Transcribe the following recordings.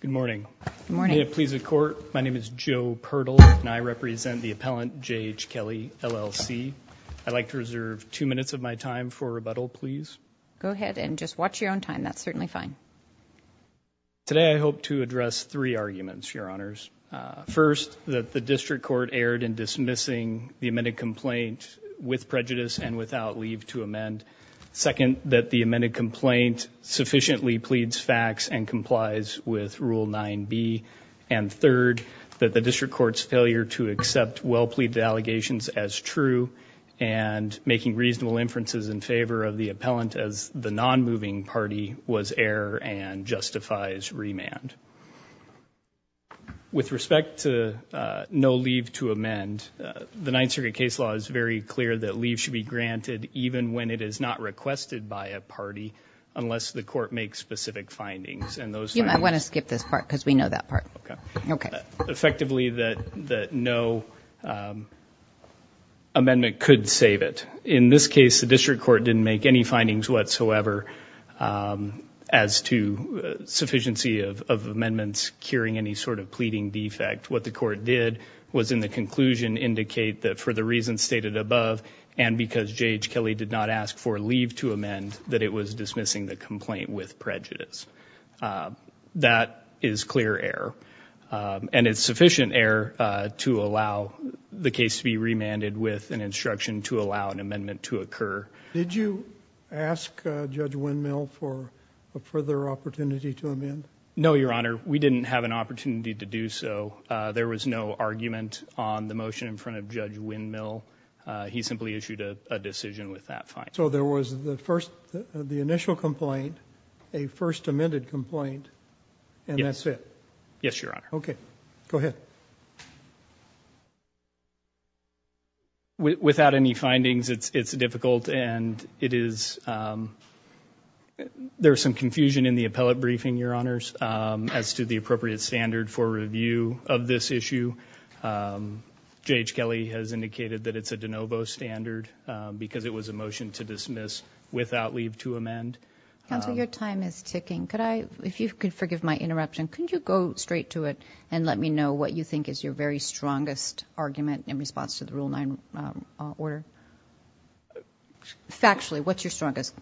Good morning. May it please the court, my name is Joe Pertl and I represent the appellant J.H. Kelly LLC. I'd like to reserve two minutes of my time for rebuttal, please. Go ahead and just watch your own time, that's certainly fine. Today I hope to address three arguments, Your Honors. First, that the district court erred in dismissing the amended complaint with prejudice and without leave to amend. Second, that the amended complaint sufficiently pleads facts and complies with Rule 9b. And third, that the district court's failure to accept well-pleaded allegations as true and making reasonable inferences in favor of the appellant as the non-moving party was error and justifies remand. With respect to no leave to amend, the Ninth Circuit case law is very clear that leave should be granted even when it is not requested by a party unless the court makes specific findings. I want to skip this part because we know that part. Okay. Effectively, that no amendment could save it. In this case, the district court didn't make any findings whatsoever as to sufficiency of amendments curing any sort of pleading defect. What the court did was in the because J.H. Kelly did not ask for leave to amend, that it was dismissing the complaint with prejudice. That is clear error and it's sufficient error to allow the case to be remanded with an instruction to allow an amendment to occur. Did you ask Judge Windmill for a further opportunity to amend? No, Your Honor. We didn't have an opportunity to do so. There was no argument on the motion in front of Judge Windmill. He simply issued a decision with that fine. So there was the first, the initial complaint, a first amended complaint, and that's it? Yes, Your Honor. Okay, go ahead. Without any findings, it's difficult and it is, there's some confusion in the appellate briefing, Your Honors, as to the appropriate standard for review of this case. J.H. Kelly has indicated that it's a de novo standard because it was a motion to dismiss without leave to amend. Counselor, your time is ticking. Could I, if you could forgive my interruption, could you go straight to it and let me know what you think is your very strongest argument in response to the Rule 9 order? Factually, what's your strongest?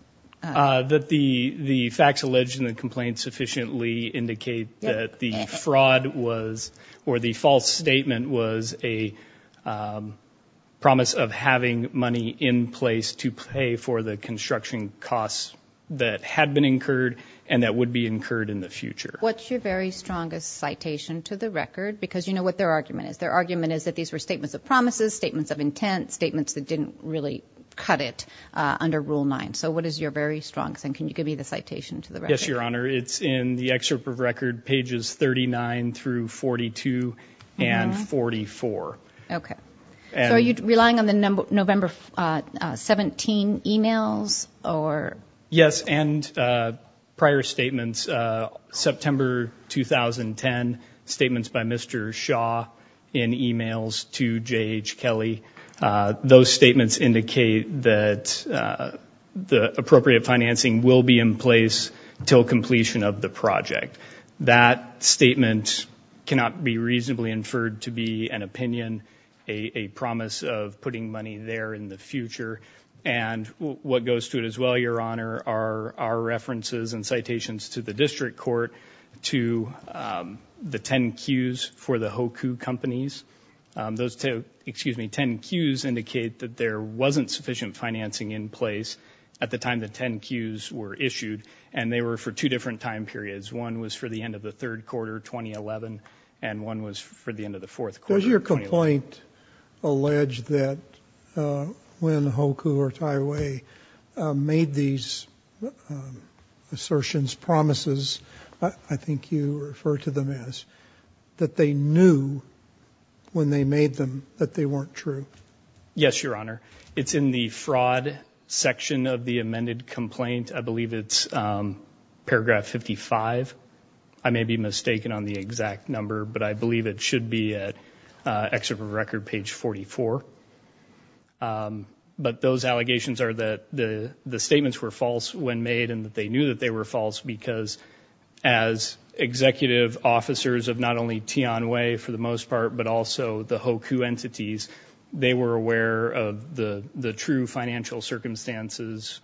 That the facts alleged in the complaint sufficiently indicate that the fraud was, or the false statement was a promise of having money in place to pay for the construction costs that had been incurred and that would be incurred in the future. What's your very strongest citation to the record? Because you know what their argument is. Their argument is that these were statements of promises, statements of intent, statements that didn't really cut it under Rule 9. So what is your very strongest? And can you give me the record? Pages 39 through 42 and 44. Okay. So are you relying on the November 17 emails? Yes, and prior statements. September 2010 statements by Mr. Shaw in emails to J.H. Kelly. Those statements indicate that the appropriate financing will be in place until completion of the project. That statement cannot be reasonably inferred to be an opinion, a promise of putting money there in the future. And what goes to it as well, Your Honor, are our references and citations to the district court, to the 10 Q's for the Hoku companies. Those two, excuse me, 10 Q's indicate that there wasn't sufficient financing in place at the time the 10 Q's were issued, and they were for two different time periods. One was for the end of the third quarter 2011, and one was for the end of the fourth quarter. Does your complaint allege that when Hoku or Taiwei made these assertions, promises, I think you refer to them as, that they knew when they made them that they weren't true? Yes, Your Honor. It's in the fraud section of the amended complaint. I believe it's paragraph 55. I may be mistaken on the exact number, but I believe it should be at excerpt of record page 44. But those allegations are that the the statements were false when made, and that they knew that they were false, because as executive officers of not only Tianwei for the most part, but also the Hoku entities, they were aware of the the true financial circumstances,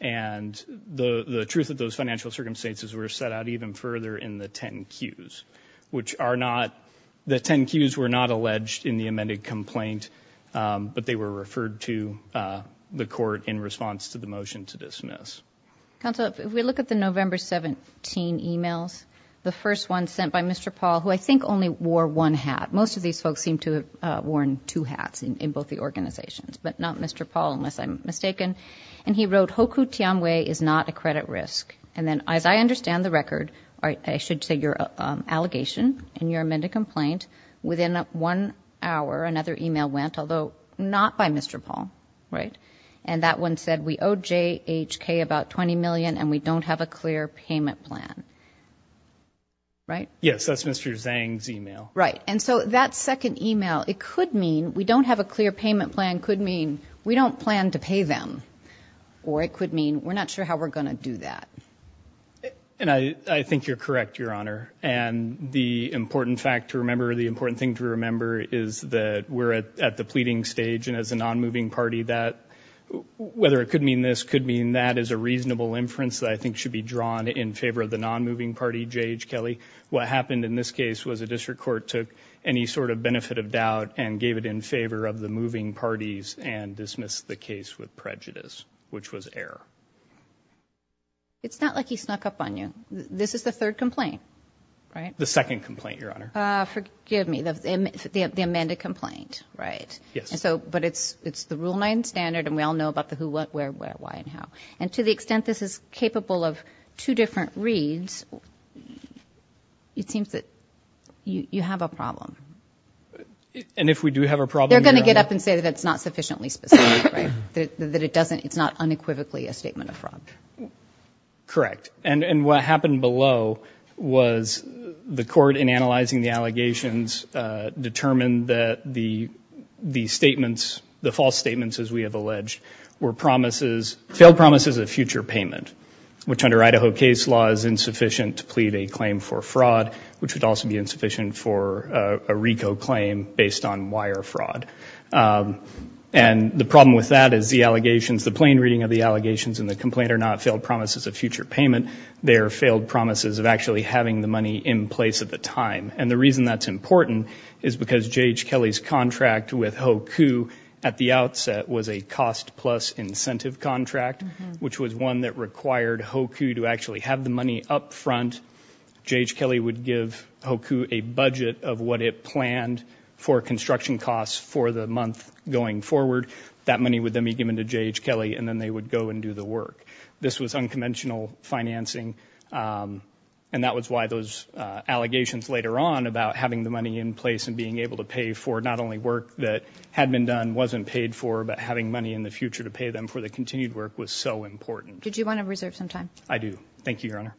and the the truth of those financial circumstances were set out even further in the 10 Q's, which are not, the 10 Q's were not alleged in the amended complaint, but they were referred to the court in response to the motion to dismiss. Counsel, if we look at the November 17 emails, the first one sent by Mr. Paul, who I think only wore one hat, most of these folks seem to have worn two hats in both the organizations, but not Mr. Paul, unless I'm mistaken, and he wrote Hoku Tianwei is not a credit risk, and then as I understand the record, I should say your allegation in your amended complaint, within one hour another email went, although not by Mr. Paul, right? And that one said we owe JHK about 20 and we don't have a clear payment plan, right? Yes, that's Mr. Zhang's email. Right, and so that second email, it could mean we don't have a clear payment plan, could mean we don't plan to pay them, or it could mean we're not sure how we're gonna do that. And I think you're correct, Your Honor, and the important fact to remember, the important thing to remember is that we're at the pleading stage, and as a non-moving party, that whether it could mean this, could mean that, is a reasonable inference that I think should be drawn in favor of the non-moving party, JHK. What happened in this case was a district court took any sort of benefit of doubt and gave it in favor of the moving parties and dismissed the case with prejudice, which was error. It's not like he snuck up on you. This is the third complaint, right? The second complaint, Your Honor. Forgive me, the amended complaint, right? Yes. So, but it's it's the Rule 9 standard and we all know about the who, what, where, where, why, and how. And to the extent this is capable of two different reads, it seems that you have a problem. And if we do have a problem... They're gonna get up and say that it's not sufficiently specific, right? That it doesn't, it's not unequivocally a statement of fraud. Correct. And and what happened below was the court, in analyzing the allegations, determined that the statements, the false statements, as we have alleged, were promises, failed promises of future payment, which under Idaho case law is insufficient to plead a claim for fraud, which would also be insufficient for a RICO claim based on wire fraud. And the problem with that is the allegations, the plain reading of the allegations and the complaint are not failed promises of future payment. They are failed promises of actually having the money in place at the time. And the contract with HOKU at the outset was a cost-plus incentive contract, which was one that required HOKU to actually have the money up front. J.H. Kelly would give HOKU a budget of what it planned for construction costs for the month going forward. That money would then be given to J.H. Kelly and then they would go and do the work. This was unconventional financing and that was why those allegations later on about having the money in place and being able to pay for not only work that had been done, wasn't paid for, but having money in the future to pay them for the continued work was so important. Did you want to reserve some time? I do. Thank you, Your Honor.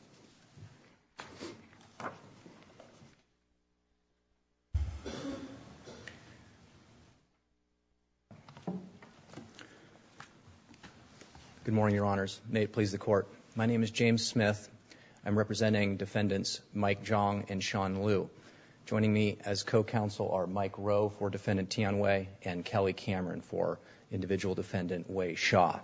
Good morning, Your Honors. May it please the Court. My name is James Smith. I'm representing defendants Mike Jong and Sean Liu. Joining me as co-counsel are Mike Rowe for Defendant Tian Wei and Kelly Cameron for individual Defendant Wei Xia.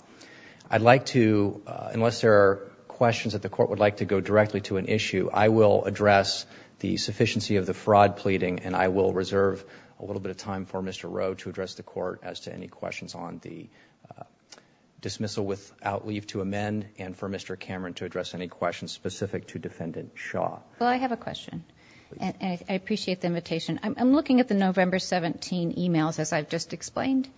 I'd like to, unless there are questions that the Court would like to go directly to an issue, I will address the sufficiency of the fraud pleading and I will reserve a little bit of time for Mr. Rowe to address the Court as to any questions on the dismissal without leave to amend and for Mr. Cameron to address any questions specific to Defendant Xia. Well, I have a question. I appreciate the invitation. I'm looking at the November 17 emails, as I've just explained,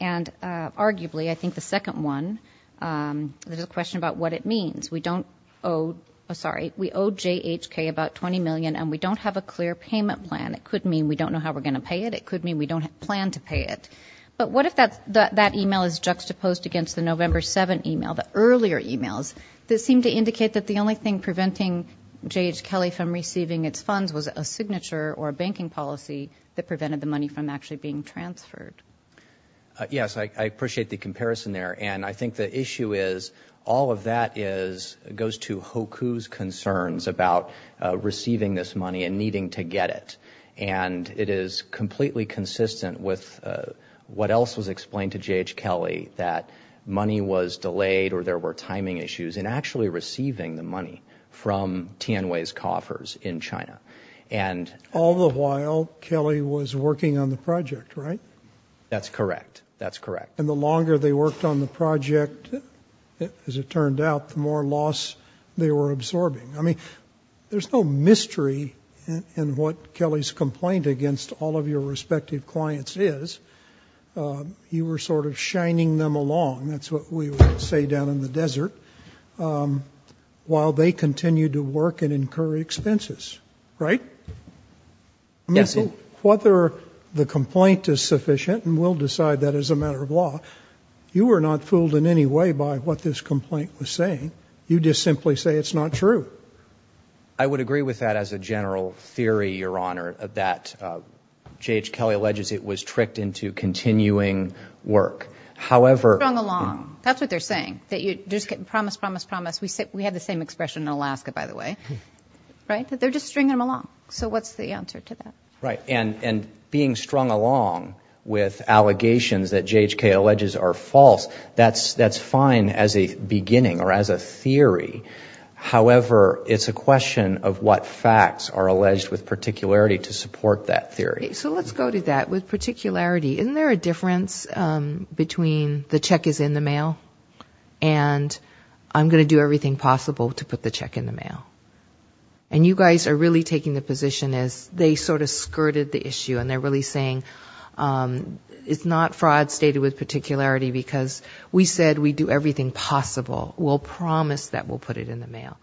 and arguably, I think the second one, there's a question about what it means. We don't owe, sorry, we owe JHK about $20 million and we don't have a clear payment plan. It could mean we don't know how we're going to pay it. It could mean we don't plan to pay it. But what if that email is juxtaposed against the November 7 email, the earlier emails, that seem to indicate that the only thing preventing J.H. Kelly from receiving its funds was a signature or a banking policy that prevented the money from actually being transferred? Yes, I appreciate the comparison there and I think the issue is, all of that goes to Hoku's concerns about receiving this money and needing to get it. And it is completely consistent with what else was explained to J.H. Kelly, that money was delayed or there were timing issues in actually receiving the money from Tianwei's coffers in China. And all the while, Kelly was working on the project, right? That's correct. That's correct. And the longer they worked on the project, as it turned out, the more loss they were absorbing. I mean, there's no mystery in what Kelly's complaint against all of your respective clients is. You were sort of shining them along, that's what we would say down in the desert, while they continued to work and incur expenses, right? Yes, sir. I mean, whether the complaint is sufficient, and we'll decide that as a matter of law, you were not fooled in any way by what this complaint was saying. You just simply say it's not true. I would agree with that as a general theory, Your Honor, that J.H. Kelly alleges it was false. However... Strung along. That's what they're saying, that you just get promise, promise, promise. We have the same expression in Alaska, by the way, right? They're just stringing them along. So what's the answer to that? Right. And being strung along with allegations that J.H. Kelly alleges are false, that's fine as a beginning or as a theory. However, it's a question of what facts are alleged with particularity to support that theory. So let's go to that with particularity. Isn't there a difference between the check is in the mail, and I'm going to do everything possible to put the check in the mail? And you guys are really taking the position as they sort of skirted the issue, and they're really saying it's not fraud stated with particularity, because we said we'd do everything possible. We'll promise that we'll put it in the mail.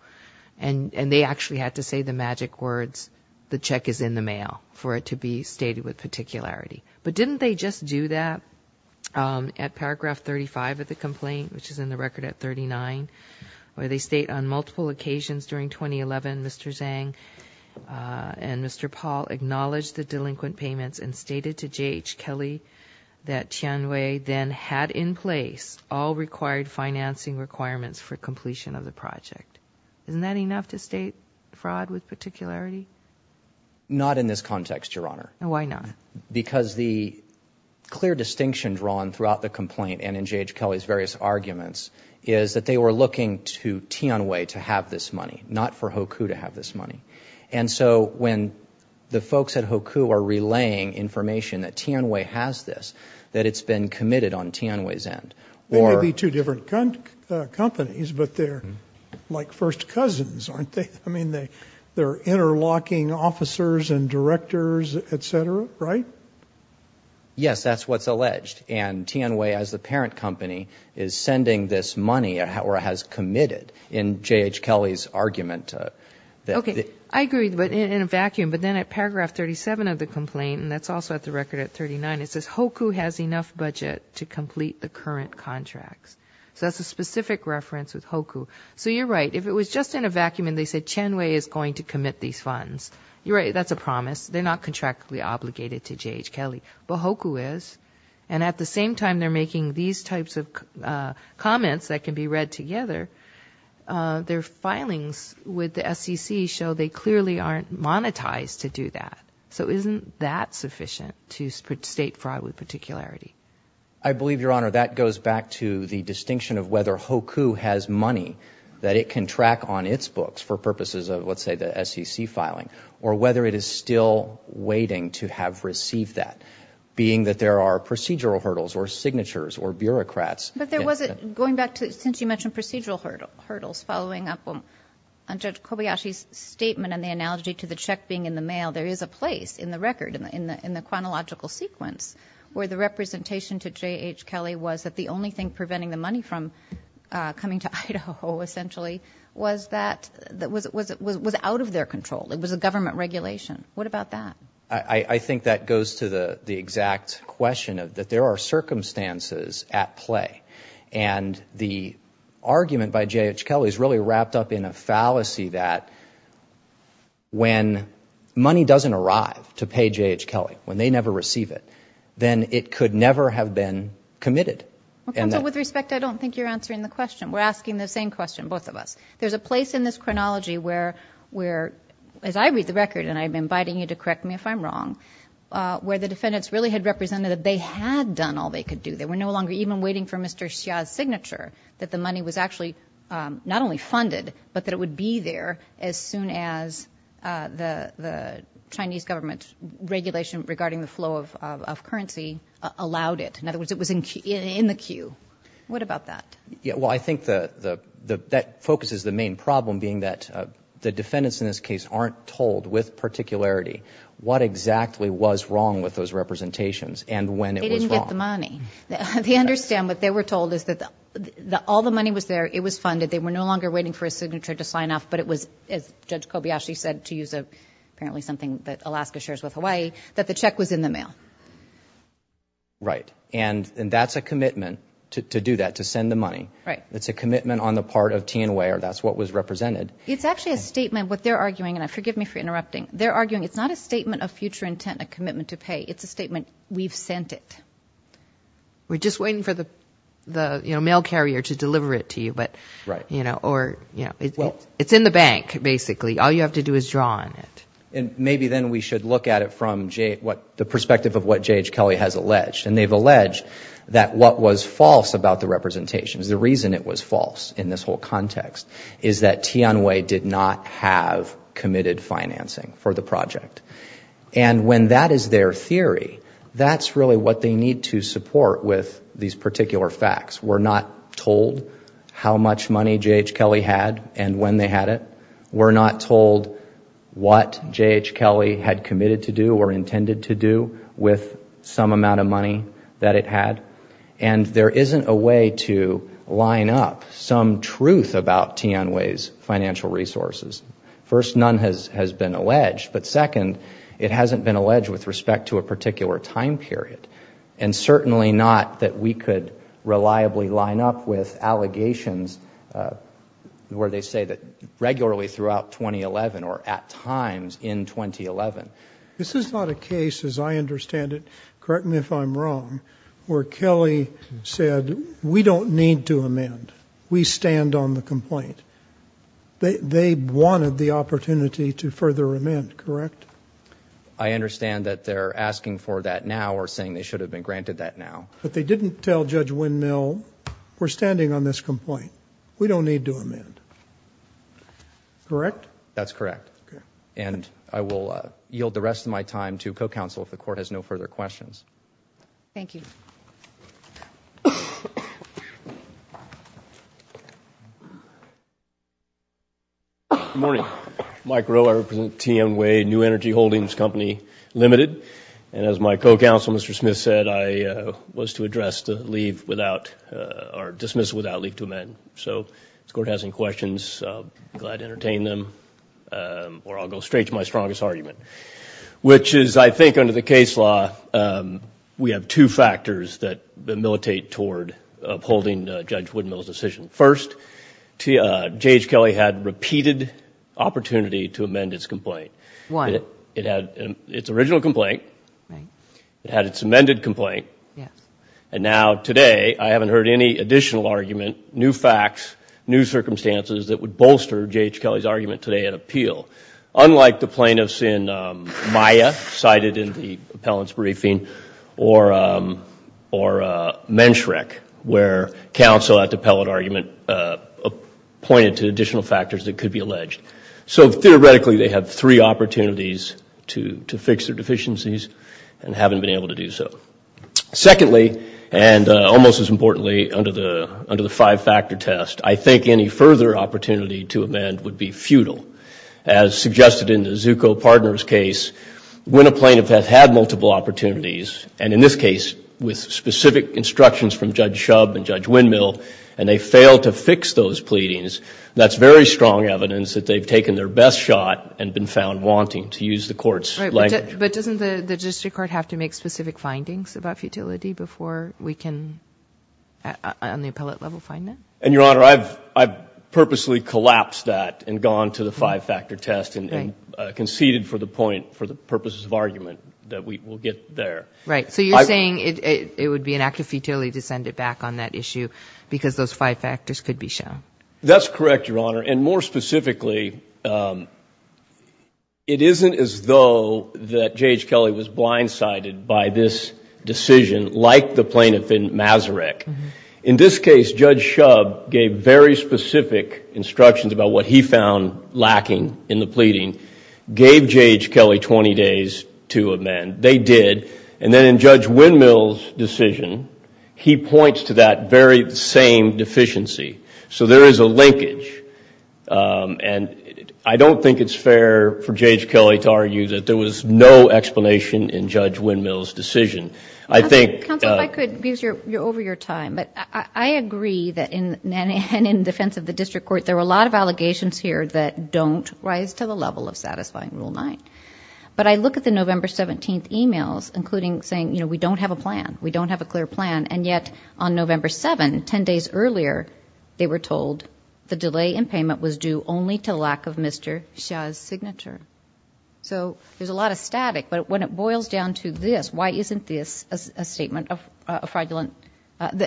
And they actually had to say the magic words, the check is in the mail, for it to be stated with particularity. But didn't they just do that at paragraph 35 of the complaint, which is in the record at 39, where they state on multiple occasions during 2011, Mr. Zhang and Mr. Paul acknowledged the delinquent payments and stated to J.H. Kelly that Tianhui then had in place all required financing requirements for completion of the project. Isn't that enough to state fraud with particularity? Not in this context, Your Honor. Why not? Because the clear distinction drawn throughout the complaint and in J.H. Kelly's various arguments is that they were looking to Tianhui to have this money, not for Hoku to have this money. And so when the folks at Hoku are relaying information that Tianhui has this, that it's been committed on Tianhui's end. They may be two different companies, but they're like first cousins, aren't they? I mean they they're interlocking officers and directors, etc., right? Yes, that's what's alleged. And Tianhui, as the parent company, is sending this money, or has committed, in J.H. Kelly's argument. Okay, I agree, but in a vacuum. But then at paragraph 37 of the complaint, and that's also at the record at 39, it says Hoku has enough budget to complete the current contracts. So that's a specific reference with Hoku. So you're right, if it was just in a vacuum and they said Tianhui is going to commit these funds, you're right, that's a promise. They're not contractually obligated to J.H. Kelly, but Hoku is. And at the same time they're making these types of comments that can be read together, their filings with the SEC show they clearly aren't monetized to do that. So isn't that a particularity? I believe, Your Honor, that goes back to the distinction of whether Hoku has money that it can track on its books for purposes of, let's say, the SEC filing, or whether it is still waiting to have received that, being that there are procedural hurdles, or signatures, or bureaucrats. But there was a, going back to, since you mentioned procedural hurdles, following up on Judge Kobayashi's statement and the analogy to the check being in the mail, there is a place in the record, in the chronological sequence, where the representation to J.H. Kelly was that the only thing preventing the money from coming to Idaho, essentially, was out of their control. It was a government regulation. What about that? I think that goes to the exact question of that there are circumstances at play. And the argument by J.H. Kelly is really that when money doesn't arrive to pay J.H. Kelly, when they never receive it, then it could never have been committed. Well, counsel, with respect, I don't think you're answering the question. We're asking the same question, both of us. There's a place in this chronology where, as I read the record, and I'm inviting you to correct me if I'm wrong, where the defendants really had represented that they had done all they could do. They were no longer even waiting for Mr. Xia's signature, that the money was actually not only funded, but that it would be there as soon as the Chinese government's regulation regarding the flow of currency allowed it. In other words, it was in the queue. What about that? Yeah, well, I think that focuses the main problem, being that the defendants in this case aren't told, with particularity, what exactly was wrong with those representations and when it was wrong. They didn't get the money. They understand what they were told is that all the money was there, it was funded, they were no enough, but it was, as Judge Kobayashi said, to use apparently something that Alaska shares with Hawaii, that the check was in the mail. Right, and that's a commitment to do that, to send the money. Right. It's a commitment on the part of Tianwei, or that's what was represented. It's actually a statement, what they're arguing, and forgive me for interrupting, they're arguing it's not a statement of future intent, a commitment to pay, it's a statement, we've sent it. We're just waiting for the mail carrier to deliver it to you, but, you know, or, you know, it's in the bank, basically, all you have to do is draw on it. And maybe then we should look at it from the perspective of what J.H. Kelly has alleged, and they've alleged that what was false about the representations, the reason it was false in this whole context, is that Tianwei did not have committed financing for the project, and when that is their theory, that's really what they need to support with these particular facts. We're not told how much money J.H. Kelly had, and when they had it. We're not told what J.H. Kelly had committed to do, or intended to do, with some amount of money that it had. And there isn't a way to line up some truth about Tianwei's financial resources. First, none has has been alleged, but second, it hasn't been alleged with respect to a particular time period, and certainly not that we could reliably line up with allegations where they say that regularly throughout 2011, or at times in 2011. This is not a case, as I understand it, correct me if I'm wrong, where Kelly said, we don't need to amend. We stand on the complaint. They wanted the opportunity to further amend, correct? I understand that they're asking for that now, or saying they should have been granted that now. But they didn't tell Judge Windmill, we're standing on this complaint. We don't need to amend. Correct? That's correct, and I will yield the rest of my time to co-counsel if the court has no further questions. Thank you. Good morning. Mike Rowe, I represent Tianwei New Energy Holdings Company Limited, and as my co-counsel Mr. Smith said, I was to address the leave without, or dismiss without leave to amend. So if the court has any questions, glad to entertain them, or I'll go straight to my strongest argument, which is, I think under the case law, we have two factors that militate toward upholding Judge Windmill's decision. First, J.H. Kelly had repeated opportunity to amend its complaint. Why? It had its original complaint, it had its amended complaint, and now today I haven't heard any additional argument, new facts, new circumstances that would bolster J.H. Kelly's argument today at appeal. Unlike the plaintiffs in Maya, cited in the appellant's briefing, or Menschreck, where counsel at the appellate argument pointed to additional factors that could be alleged. So theoretically, they have three opportunities to fix their deficiencies and haven't been able to do so. Secondly, and almost as importantly, under the five-factor test, I think any further opportunity to amend would be futile. As suggested in the Zucco Partners case, when a plaintiff has had multiple opportunities, and in this case with specific instructions from Judge Shubb and Judge Windmill, and they fail to fix those pleadings, that's very strong evidence that they've taken their best shot and been found wanting to use the court's language. But doesn't the district court have to make specific findings about futility before we can, on the appellate level, find that? And Your Honor, I've purposely collapsed that and gone to the five-factor test and conceded for the point, for the purposes of argument, that we will get there. Right, so you're saying it would be an act of futility to send it back on that issue because those five factors could be shown. That's correct, Your Honor, and more specifically, it isn't as though that J.H. Kelly was blindsided by this decision like the plaintiff in Masaryk. In this case, Judge Shubb gave very specific instructions about what he found lacking in the pleading, gave J.H. Kelly 20 days to amend. They did, and then in Judge Windmill's decision, he points to that very same deficiency. So there is a linkage, and I don't think it's fair for J.H. Kelly to argue that there was no explanation in Judge Windmill's decision. I think... Counsel, if I could, you're over your time, but I agree that in defense of the district court, there were a lot of allegations here that don't rise to the level of satisfying Rule 9. But I look at the November 17th emails, including saying, you know, we don't have a plan, we don't have a clear plan, and yet on November 7, 10 days earlier, they were told the delay in payment was due only to lack of Mr. Shah's signature. So there's a lot of static, but when it boils down to this, why isn't this a statement of fraudulent...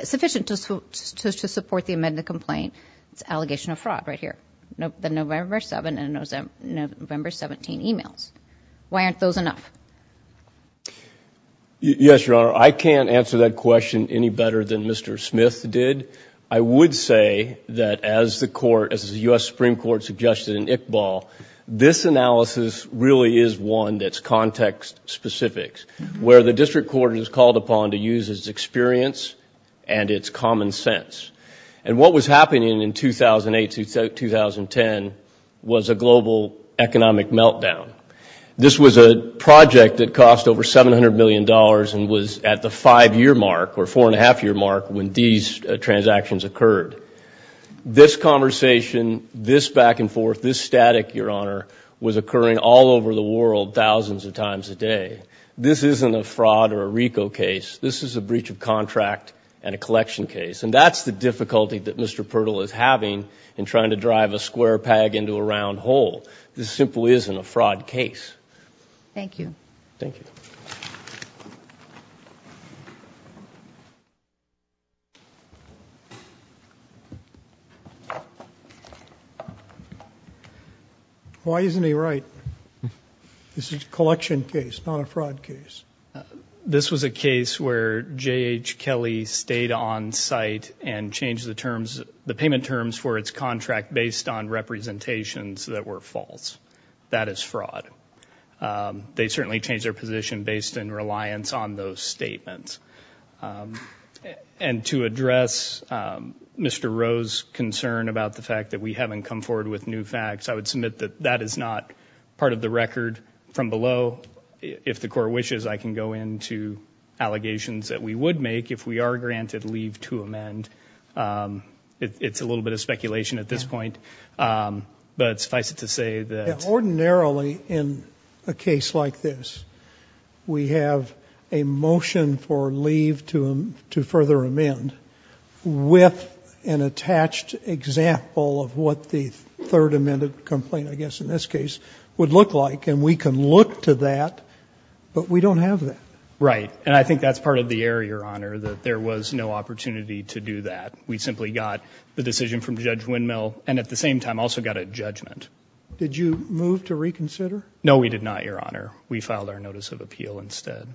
sufficient to support the amended complaint? It's allegation of fraud right here. The November 7 and November 17 emails. Why aren't those enough? Yes, Your Honor, I can't answer that question any better than Mr. Smith did. I would say that as the court, as the U.S. Supreme Court suggested in Iqbal, this analysis really is one that's context-specific, where the district court is called upon to use its experience and its common This was a project that cost over 700 million dollars and was at the five-year mark, or four-and-a-half-year mark, when these transactions occurred. This conversation, this back-and-forth, this static, Your Honor, was occurring all over the world thousands of times a day. This isn't a fraud or a RICO case. This is a breach of contract and a collection case. And that's the difficulty that Mr. Pirtle is having in trying to drive a square peg into a round hole. This simply isn't a fraud case. Thank you. Thank you. Why isn't he right? This is a collection case, not a fraud case. This was a case where J.H. Kelly stayed on site and changed the terms, the payment terms, for its contract based on representations that were false. That is fraud. They certainly changed their position based in reliance on those statements. And to address Mr. Rowe's concern about the fact that we haven't come forward with new facts, I would submit that that is not part of the record from below. If the court wishes, I can go into allegations that we would make if we are granted leave to amend. It's a little bit of speculation at this point, but suffice it to say that... Ordinarily, in a case like this, we have a motion for leave to further amend with an attached example of what the third amended complaint, I guess in this case, would look like. And we can look to that, but we don't have that. Right. And I think that's part of the error, Your Honor, that there was no opportunity to do that. We simply got the decision from Judge Windmill, and at the same time also got a judgment. Did you move to reconsider? No, we did not, Your Honor. We filed our notice of appeal instead.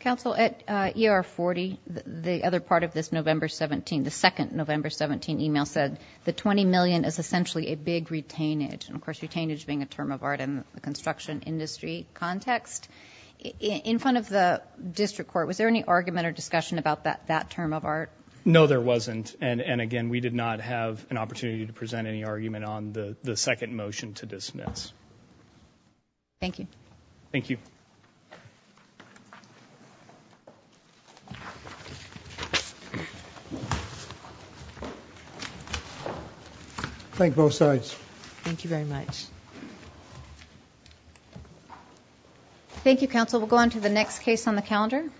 Counsel, at ER 40, the other part of this November 17, the second November 17 email, said the $20 million is essentially a big retainage. And of course, retainage being a term of art in the construction industry context. In front of the district court, was there any argument or discussion about that term of art? No, there wasn't. And again, we did not have an opportunity to present any argument on the second motion to dismiss. Thank you. Thank you. Thank you, both sides. Thank you very much. Thank you, counsel. We'll go on to the